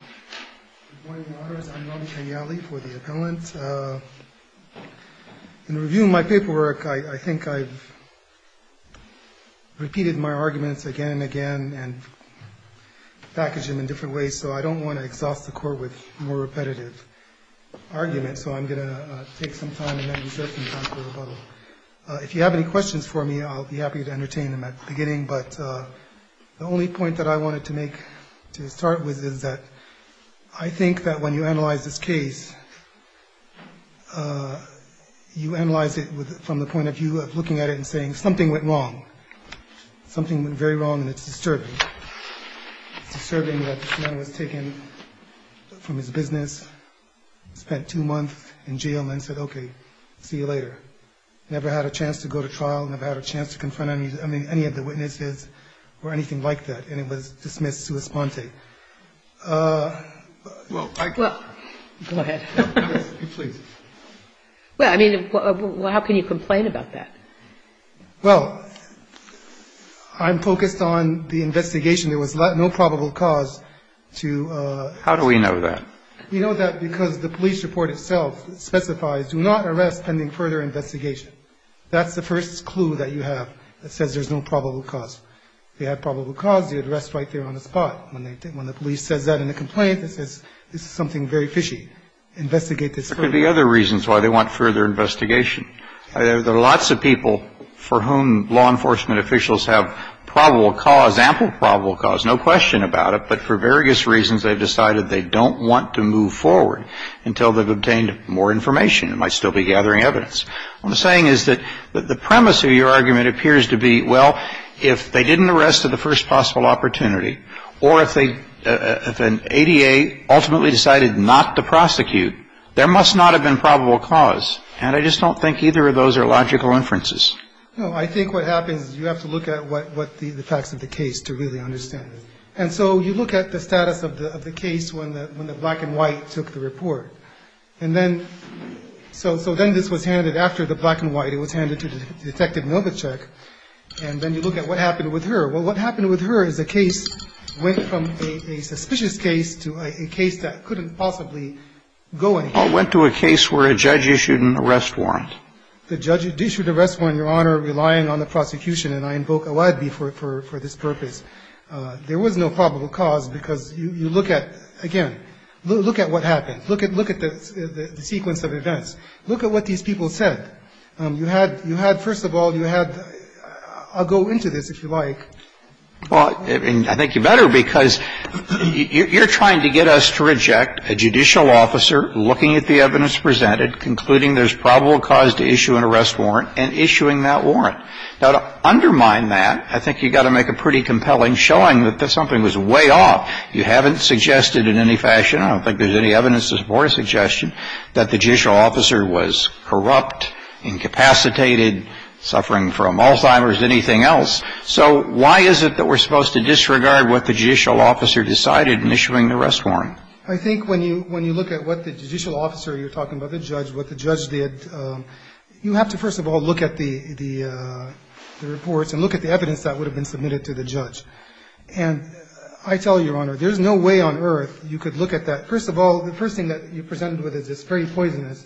Good morning, Your Honors. I'm Rami Kanyali for the appellant. In reviewing my paperwork, I think I've repeated my arguments again and again and packaged them in different ways, so I don't want to exhaust the Court with more repetitive arguments, so I'm going to take some time and then reserve some time for rebuttal. If you have any questions for me, I'll be happy to entertain them at the beginning, but the only point that I wanted to make to start with is that I think that when you analyze this case, you analyze it from the point of view of looking at it and saying something went wrong. Something went very wrong, and it's disturbing. It's disturbing that this man was taken from his business, spent two months in jail, and then said, okay, see you later. Never had a chance to go to trial, never had a chance to confront any of the witnesses or anything like that, and it was dismissed sua sponte. Well, I... Go ahead. Please. Well, I mean, how can you complain about that? Well, I'm focused on the investigation. There was no probable cause to... How do we know that? We know that because the police report itself specifies, do not arrest pending further investigation. That's the first clue that you have that says there's no probable cause. If they had probable cause, they would arrest right there on the spot. When the police says that in the complaint, it says this is something very fishy. Investigate this further. There could be other reasons why they want further investigation. There are lots of people for whom law enforcement officials have probable cause, ample probable cause, no question about it, but for various reasons they've decided they don't want to move forward until they've obtained more information. They might still be gathering evidence. What I'm saying is that the premise of your argument appears to be, well, if they didn't arrest at the first possible opportunity or if an ADA ultimately decided not to prosecute, there must not have been probable cause. And I just don't think either of those are logical inferences. No, I think what happens is you have to look at what the facts of the case to really understand it. And so you look at the status of the case when the black and white took the report. And then so then this was handed after the black and white. It was handed to Detective Novacek. And then you look at what happened with her. Well, what happened with her is the case went from a suspicious case to a case that couldn't possibly go anywhere. Well, it went to a case where a judge issued an arrest warrant. The judge issued an arrest warrant, Your Honor, relying on the prosecution, and I invoke Awad for this purpose. There was no probable cause because you look at, again, look at what happened. Look at the sequence of events. Look at what these people said. You had, first of all, you had, I'll go into this if you like. Well, I think you better because you're trying to get us to reject a judicial officer looking at the evidence presented, concluding there's probable cause to issue an arrest warrant, and issuing that warrant. Now, to undermine that, I think you've got to make a pretty compelling showing that something was way off. You haven't suggested in any fashion, I don't think there's any evidence to support a suggestion, that the judicial officer was corrupt, incapacitated, suffering from Alzheimer's, anything else. So why is it that we're supposed to disregard what the judicial officer decided in issuing the arrest warrant? I think when you look at what the judicial officer, you're talking about the judge, what the judge did, you have to, first of all, look at the reports and look at the evidence that would have been submitted to the judge. And I tell you, Your Honor, there's no way on earth you could look at that. First of all, the first thing that you presented with is this very poisonous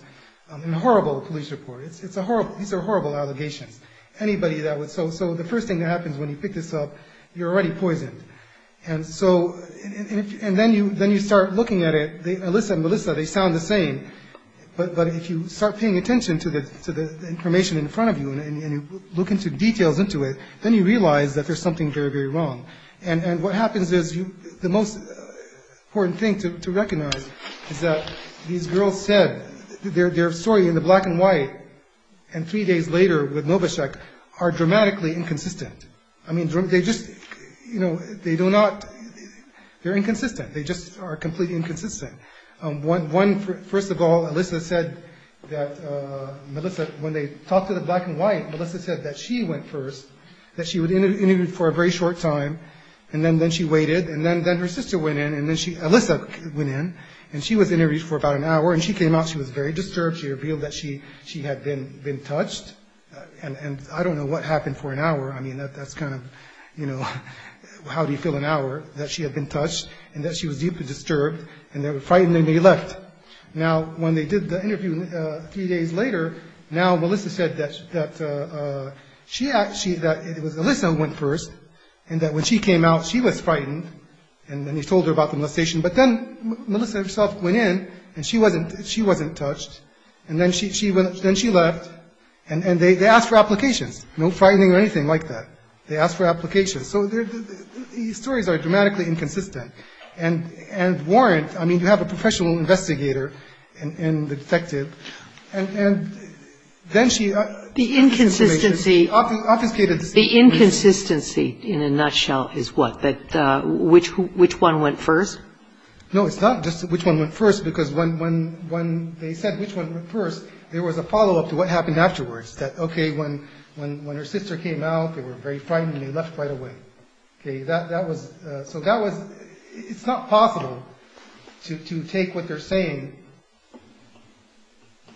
and horrible police report. It's a horrible, these are horrible allegations. Anybody that would, so the first thing that happens when you pick this up, you're already poisoned. And so, and then you start looking at it, Alyssa and Melissa, they sound the same, but if you start paying attention to the information in front of you, and you look into details into it, then you realize that there's something very, very wrong. And what happens is, the most important thing to recognize is that these girls said, their story in the black and white, and three days later with Novacek, are dramatically inconsistent. I mean, they just, you know, they do not, they're inconsistent. They just are completely inconsistent. One, first of all, Alyssa said that Melissa, when they talked to the black and white, Melissa said that she went first, that she would interview for a very short time, and then she waited, and then her sister went in, and then Alyssa went in, and she was interviewed for about an hour, and she came out, she was very disturbed, she revealed that she had been touched, and I don't know what happened for an hour, I mean, that's kind of, you know, how do you fill an hour, that she had been touched, and that she was deeply disturbed, and they were frightened, and they left. Now, when they did the interview three days later, now Melissa said that Alyssa went first, and that when she came out, she was frightened, and then he told her about the molestation, but then Melissa herself went in, and she wasn't touched, and then she left, and they asked for applications, no frightening or anything like that. They asked for applications. So these stories are dramatically inconsistent, and warrant, I mean, you have a professional investigator and the detective, and then she... The inconsistency, in a nutshell, is what? That which one went first? No, it's not just which one went first, because when they said which one went first, there was a follow-up to what happened afterwards, that okay, when her sister came out, they were very frightened, and they left right away. Okay, that was, so that was, it's not possible to take what they're saying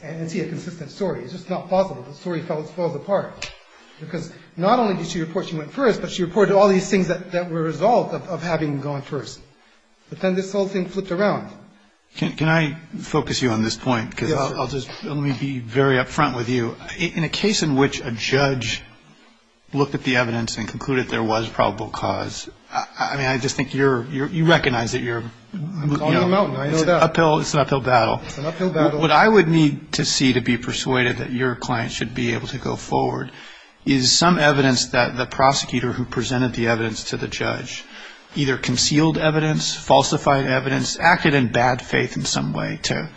and see a consistent story. It's just not possible. The story falls apart, because not only did she report she went first, but she reported all these things that were a result of having gone first. But then this whole thing flipped around. Can I focus you on this point, because I'll just, let me be very up front with you. In a case in which a judge looked at the evidence and concluded there was probable cause, I mean, I just think you're, you recognize that you're... I'm calling them out, I know that. It's an uphill battle. It's an uphill battle. What I would need to see to be persuaded that your client should be able to go forward is some evidence that the prosecutor who presented the evidence to the judge, either concealed evidence, falsified evidence, acted in bad faith in some way to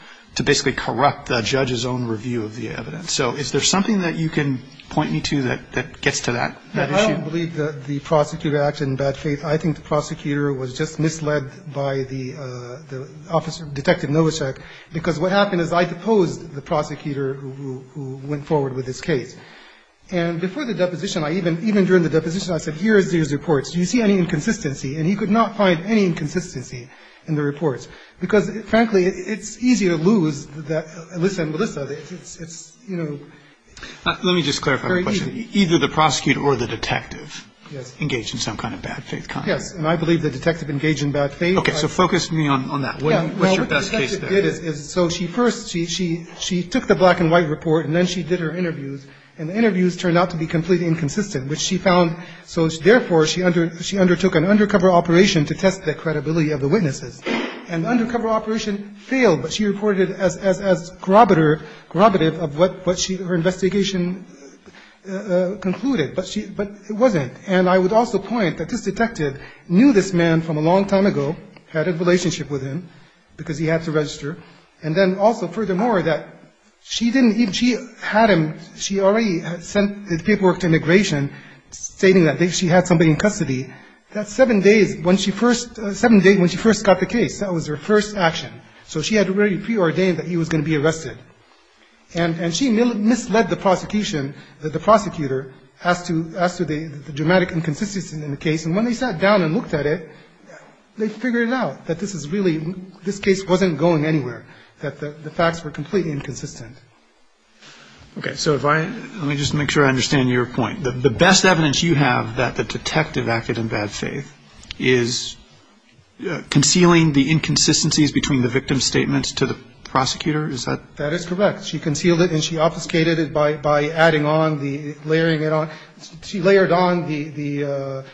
basically corrupt the judge's own review of the evidence. So is there something that you can point me to that gets to that issue? I don't believe that the prosecutor acted in bad faith. I think the prosecutor was just misled by the officer, Detective Novacek, because what happened is I deposed the prosecutor who went forward with this case. And before the deposition, even during the deposition, I said, here are these reports. Do you see any inconsistency? And he could not find any inconsistency in the reports. Because, frankly, it's easy to lose Alyssa and Melissa. It's, you know... Let me just clarify my question. Very easy. Either the prosecutor or the detective engaged in some kind of bad faith conduct. Yes. And I believe the detective engaged in bad faith. Okay. So focus me on that. What's your best case study? Well, what the detective did is, so she first, she took the black and white report and then she did her interviews. And the interviews turned out to be completely inconsistent, which she found. So therefore, she undertook an undercover operation to test the credibility of the witnesses. And the undercover operation failed, but she reported as corroborative of what her investigation concluded. But it wasn't. And I would also point that this detective knew this man from a long time ago, had a relationship with him, because he had to register. And then also, furthermore, that she didn't even, she had him, she already had sent the paperwork to immigration stating that she had somebody in custody. That's seven days when she first, seven days when she first got the case. That was her first action. So she had already preordained that he was going to be arrested. And she misled the prosecution, the prosecutor, as to the dramatic inconsistency in the case. And when they sat down and looked at it, they figured it out, that this is really, this case wasn't going anywhere, that the facts were completely inconsistent. Okay. So if I, let me just make sure I understand your point. The best evidence you have that the detective acted in bad faith is concealing the inconsistencies between the victim's statements to the prosecutor? Is that? That is correct. She concealed it and she obfuscated it by adding on the, layering it on. She layered on the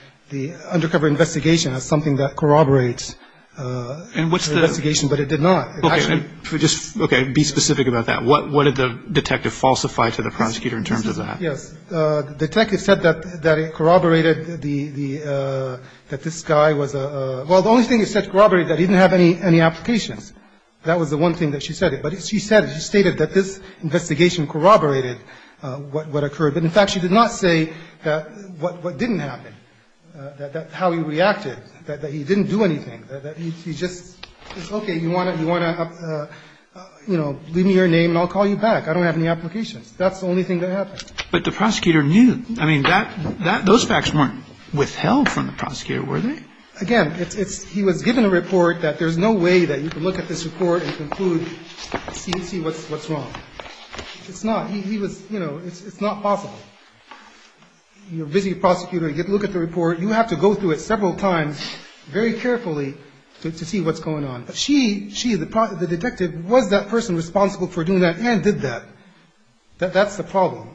undercover investigation as something that corroborates the investigation, but it did not. Okay. Just, okay, be specific about that. What did the detective falsify to the prosecutor in terms of that? Yes. The detective said that it corroborated the, that this guy was a, well, the only thing it said corroborated that he didn't have any applications. That was the one thing that she said. But she said, she stated that this investigation corroborated what occurred. But, in fact, she did not say what didn't happen, that how he reacted, that he didn't do anything, that he just, it's okay, you want to, you want to, you know, leave me your name and I'll call you back. I don't have any applications. That's the only thing that happened. But the prosecutor knew. I mean, that, that, those facts weren't withheld from the prosecutor, were they? Again, it's, it's, he was given a report that there's no way that you can look at this report and conclude, see what's wrong. It's not. He was, you know, it's not possible. You're a busy prosecutor. You look at the report. You have to go through it several times very carefully to see what's going on. But she, she, the detective, was that person responsible for doing that and did that. That, that's the problem.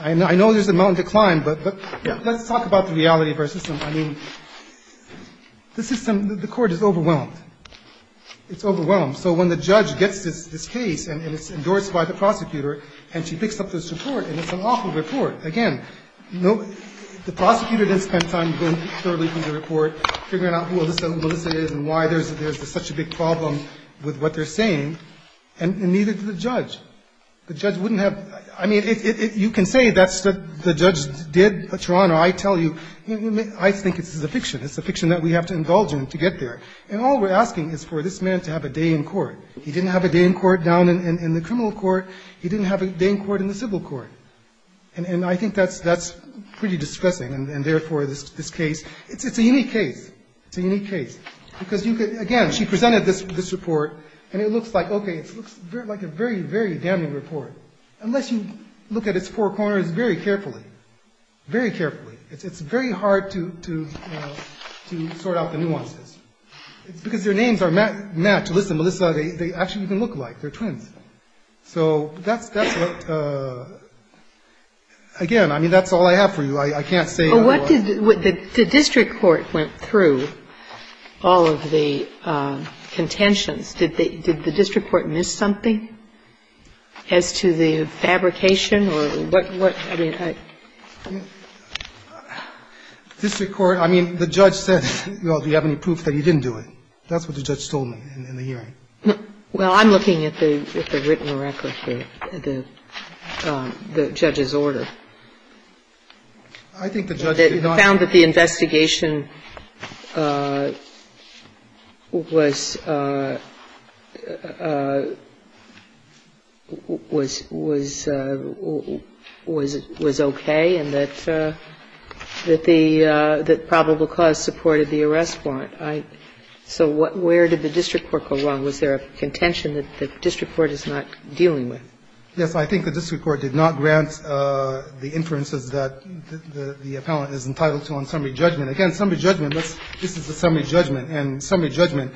I know, I know there's a mountain to climb, but, but let's talk about the reality of our system. I mean, the system, the court is overwhelmed. It's overwhelmed. So when the judge gets this, this case and it's endorsed by the prosecutor and she picks up this report, and it's an awful report. Again, no, the prosecutor didn't spend time going through the report, figuring out who Alyssa, who Alyssa is and why there's, there's such a big problem with what they're saying, and neither did the judge. The judge wouldn't have, I mean, it, it, you can say that's what the judge did. But, Your Honor, I tell you, I think it's a fiction. It's a fiction that we have to indulge in to get there. And all we're asking is for this man to have a day in court. He didn't have a day in court down in, in the criminal court. He didn't have a day in court in the civil court. And, and I think that's, that's pretty distressing. And, and therefore this, this case, it's, it's a unique case. It's a unique case. Because you could, again, she presented this, this report and it looks like, okay, it looks like a very, very damning report. Unless you look at its four corners very carefully, very carefully. It's, it's very hard to, to, you know, to sort out the nuances. It's because their names are matched. Alyssa, Melissa, they, they actually even look alike. They're twins. So that's, that's what, again, I mean, that's all I have for you. I, I can't say otherwise. But what did, the district court went through all of the contentions. Did the, did the district court miss something as to the fabrication or what, what, I mean, I. District court, I mean, the judge said, well, do you have any proof that he didn't do it? That's what the judge told me in, in the hearing. Well, I'm looking at the, at the written record for the, the judge's order. I think the judge did not. It found that the investigation was, was, was, was, was okay and that, that the, that probable cause supported the arrest warrant. But I, so what, where did the district court go wrong? Was there a contention that the district court is not dealing with? Yes, I think the district court did not grant the inferences that the, the, the appellant is entitled to on summary judgment. Again, summary judgment, this, this is a summary judgment. And summary judgment,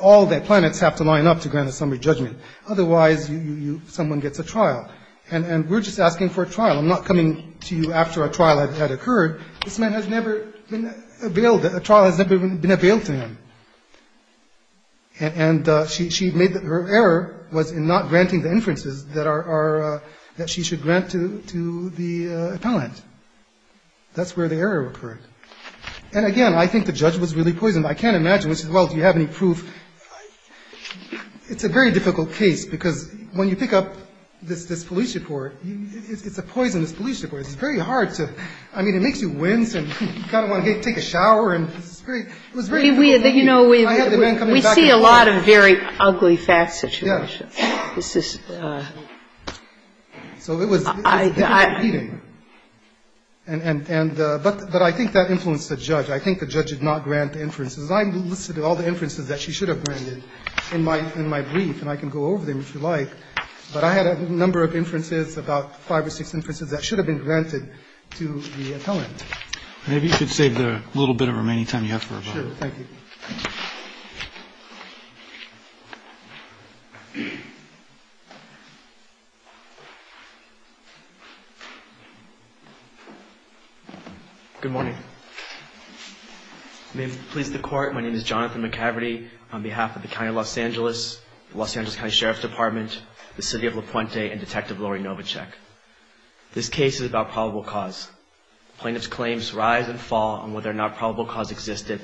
all the planets have to line up to grant a summary judgment. Otherwise, you, you, someone gets a trial. And, and we're just asking for a trial. I'm not coming to you after a trial had, had occurred. This man has never been availed, a trial has never been availed to him. And, and she, she made, her error was in not granting the inferences that are, are, that she should grant to, to the appellant. That's where the error occurred. And again, I think the judge was really poisoned. I can't imagine, which is, well, do you have any proof? It's a very difficult case because when you pick up this, this police report, it's a poisonous police report. It's very hard to, I mean, it makes you wince and you kind of want to take a shower and it's very, it was very difficult for me. I had the man come in back and forth. We see a lot of very ugly facts situations. Yes. This is. So it was, it was difficult for me. And, and, and, but, but I think that influenced the judge. I think the judge did not grant the inferences. I listed all the inferences that she should have granted in my, in my brief, and I can go over them if you like. But I had a number of inferences, about five or six inferences that should have been granted to the appellant. Maybe you could save the little bit of remaining time you have for rebuttal. Sure. Thank you. Good morning. May it please the Court. My name is Jonathan McCavity on behalf of the County of Los Angeles, Los Angeles County Sheriff's Department, the City of La Puente, and Detective Lori Novacek. This case is about probable cause. Plaintiff's claims rise and fall on whether or not probable cause existed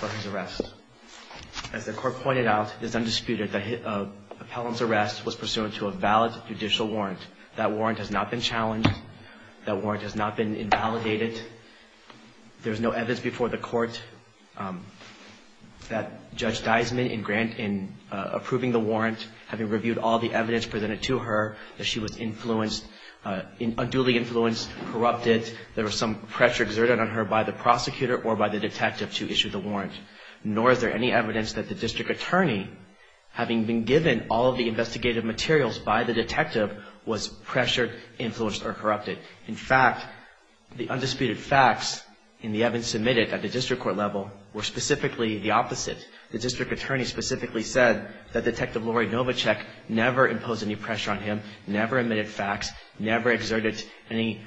for his arrest. As the Court pointed out, it is undisputed that the appellant's arrest was pursuant to a valid judicial warrant. That warrant has not been challenged. That warrant has not been invalidated. There is no evidence before the Court that Judge Deisman, in granting, in approving the warrant, having reviewed all the evidence presented to her, that she was influenced, unduly influenced, corrupted, there was some pressure exerted on her by the prosecutor or by the detective to issue the warrant. Nor is there any evidence that the district attorney, having been given all of the investigative materials by the detective, was pressured, influenced, or corrupted. In fact, the undisputed facts in the evidence submitted at the district court level were specifically the opposite. The district attorney specifically said that Detective Lori Novacek never imposed any pressure on him, never admitted facts, never exerted any,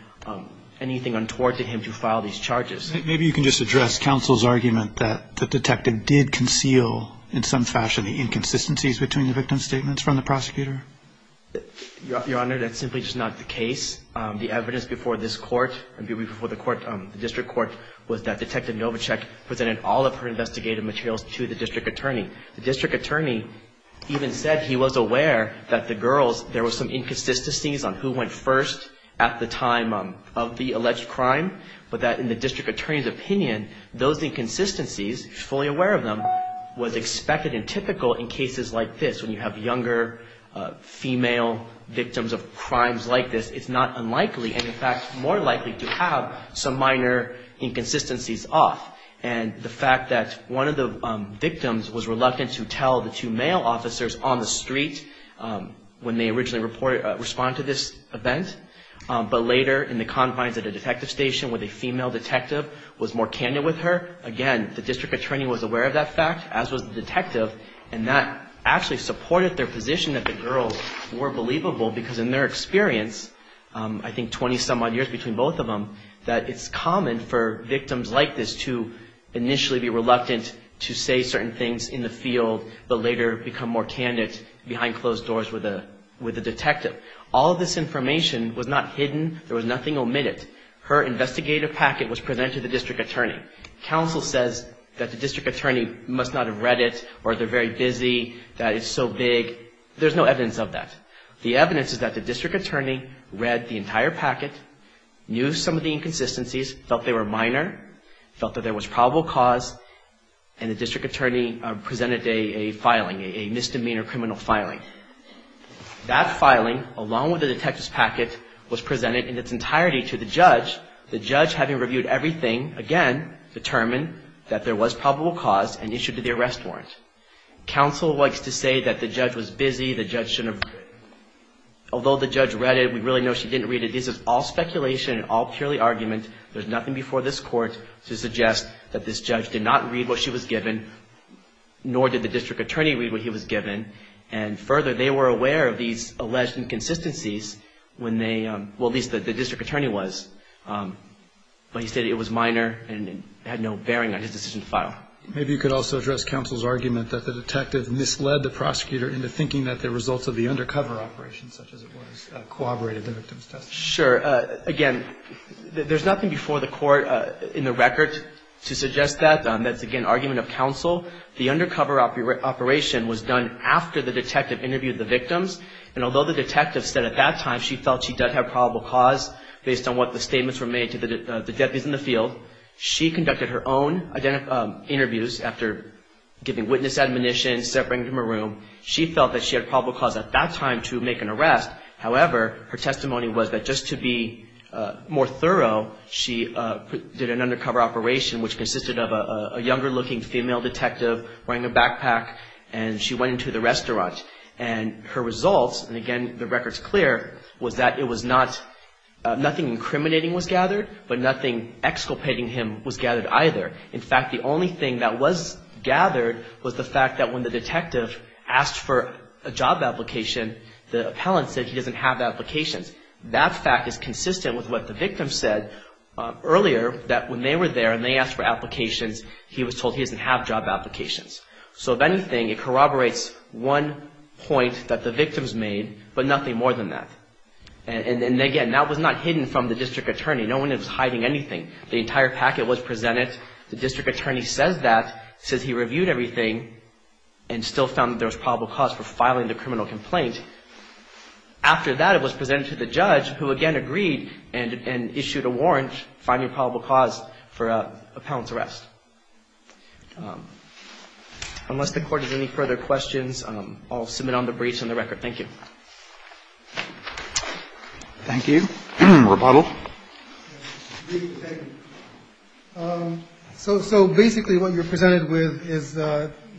anything untoward to him to file these charges. Maybe you can just address counsel's argument that the detective did conceal, in some fashion, the inconsistencies between the victim's statements from the prosecutor? Your Honor, that's simply just not the case. The evidence before this court, before the district court, was that Detective Novacek presented all of her investigative materials to the district attorney. The district attorney even said he was aware that the girls, there were some inconsistencies on who went first at the time of the alleged crime, but that in the district attorney's opinion, those inconsistencies, fully aware of them, was expected and typical in cases like this. When you have younger female victims of crimes like this, it's not unlikely, and in fact, more likely to have some minor inconsistencies off. And the fact that one of the victims was reluctant to tell the two male officers on the street when they originally responded to this event, but later in the confines at a detective station with a female detective, was more candid with her, again, the district attorney was aware of that fact, as was the detective, and that actually supported their position that the girls were believable, because in their experience, I think 20-some odd years between both of them, that it's common for victims like this to initially be reluctant to say certain things in the field, but later become more candid behind closed doors with a detective. All of this information was not hidden. There was nothing omitted. Her investigative packet was presented to the district attorney. Counsel says that the district attorney must not have read it, or they're very busy, that it's so big. There's no evidence of that. The evidence is that the district attorney read the entire packet, knew some of the inconsistencies, felt they were minor, felt that there was probable cause, and the district attorney presented a filing, a misdemeanor criminal filing. That filing, along with the detective's packet, was presented in its entirety to the judge, the judge having reviewed everything, again, determined that there was probable cause, and issued the arrest warrant. Counsel likes to say that the judge was busy, the judge shouldn't have read it. Although the judge read it, we really know she didn't read it. This is all speculation and all purely argument. There's nothing before this court to suggest that this judge did not read what she was given, nor did the district attorney read what he was given, and further, they were aware of these alleged inconsistencies when they, well, at least the district attorney was, but he said it was minor and had no bearing on his decision to file. Maybe you could also address counsel's argument that the detective misled the prosecutor into thinking that the results of the undercover operation, such as it was, corroborated the victim's testimony. Sure. Again, there's nothing before the court in the record to suggest that. That's, again, argument of counsel. The undercover operation was done after the detective interviewed the victims, and although the detective said at that time she felt she did have probable cause based on what the statements were made to the deputies in the field, she conducted her own interviews after giving witness admonition, separating them from a room. She felt that she had probable cause at that time to make an arrest. However, her testimony was that just to be more thorough, she did an undercover operation which consisted of a younger-looking female detective wearing a backpack, and she went into the restaurant. And her results, and again, the record's clear, was that it was not, nothing incriminating was gathered, but nothing exculpating him was gathered either. In fact, the only thing that was gathered was the fact that when the detective asked for a job application, the appellant said he doesn't have applications. That fact is consistent with what the victim said earlier, that when they were there and they asked for applications, he was told he doesn't have job applications. So, if anything, it corroborates one point that the victims made, but nothing more than that. And again, that was not hidden from the district attorney. No one was hiding anything. The entire packet was presented. The district attorney says that, says he reviewed everything and still found that there was probable cause for filing the criminal complaint. After that, it was presented to the judge, who again agreed and issued a warrant, finding probable cause for appellant's arrest. Unless the Court has any further questions, I'll submit on the briefs and the record. Thank you. Thank you. Rebuttal. Thank you. So basically what you're presented with is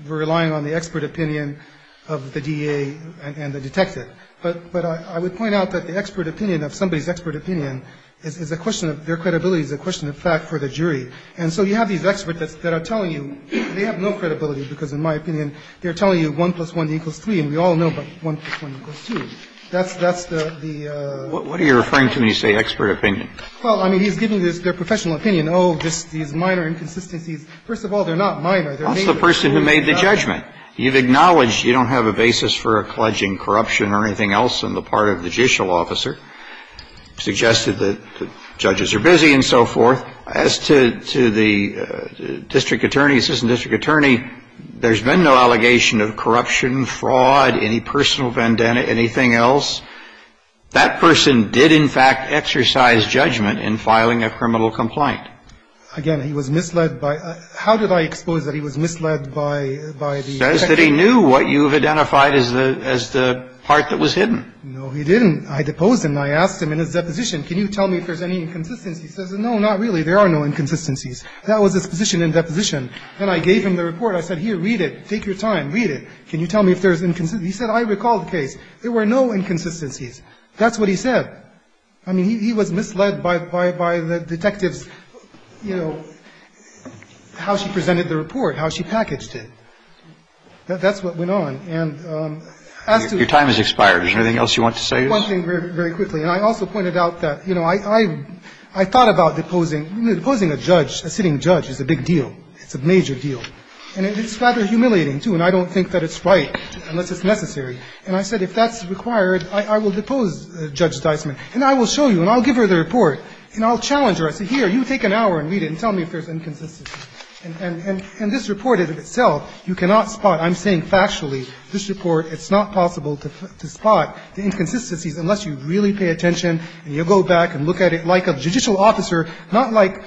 relying on the expert opinion of the DA and the detective. But I would point out that the expert opinion of somebody's expert opinion is a question of their credibility, is a question of fact for the jury. And so you have these experts that are telling you, they have no credibility because, in my opinion, they're telling you 1 plus 1 equals 3, and we all know but 1 plus 1 equals 2. That's the the ---- What are you referring to when you say expert opinion? Well, I mean, he's giving their professional opinion. Oh, just these minor inconsistencies. First of all, they're not minor. They're major. That's the person who made the judgment. You've acknowledged you don't have a basis for a pledge in corruption or anything else on the part of the judicial officer, suggested that the judges are busy and so forth. As to the district attorney, assistant district attorney, there's been no allegation of corruption, fraud, any personal vendetta, anything else. That person did, in fact, exercise judgment in filing a criminal complaint. Again, he was misled by ---- how did I expose that he was misled by the ---- He says that he knew what you've identified as the part that was hidden. No, he didn't. I deposed him. I asked him in his deposition, can you tell me if there's any inconsistencies? He says, no, not really. There are no inconsistencies. That was his position in deposition. Then I gave him the report. I said, here, read it. Take your time. Read it. Can you tell me if there's inconsistencies? He said, I recall the case. There were no inconsistencies. That's what he said. I mean, he was misled by the detectives, you know, how she presented the report, how she packaged it. That's what went on. And as to ---- Your time has expired. Is there anything else you want to say? One thing very quickly. And I also pointed out that, you know, I thought about deposing. Deposing a judge, a sitting judge, is a big deal. It's a major deal. And it's rather humiliating, too, and I don't think that it's right unless it's necessary. And I said, if that's required, I will depose Judge Deisman, and I will show you, and I'll give her the report, and I'll challenge her. I'll say, here, you take an hour and read it and tell me if there's inconsistencies. And this report in itself, you cannot spot. I'm saying factually, this report, it's not possible to spot the inconsistencies unless you really pay attention and you go back and look at it like a judicial officer, not like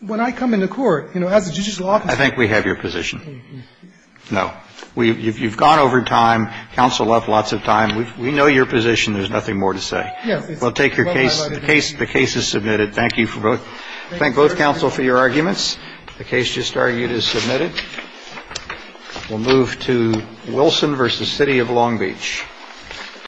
when I come into court, you know, as a judicial officer. I think we have your position. No. You've gone over time. Counsel left lots of time. We know your position. There's nothing more to say. Yes. Well, take your case. The case is submitted. Thank you for both. Thank both counsel for your arguments. The case just argued is submitted. We'll move to Wilson v. City of Long Beach.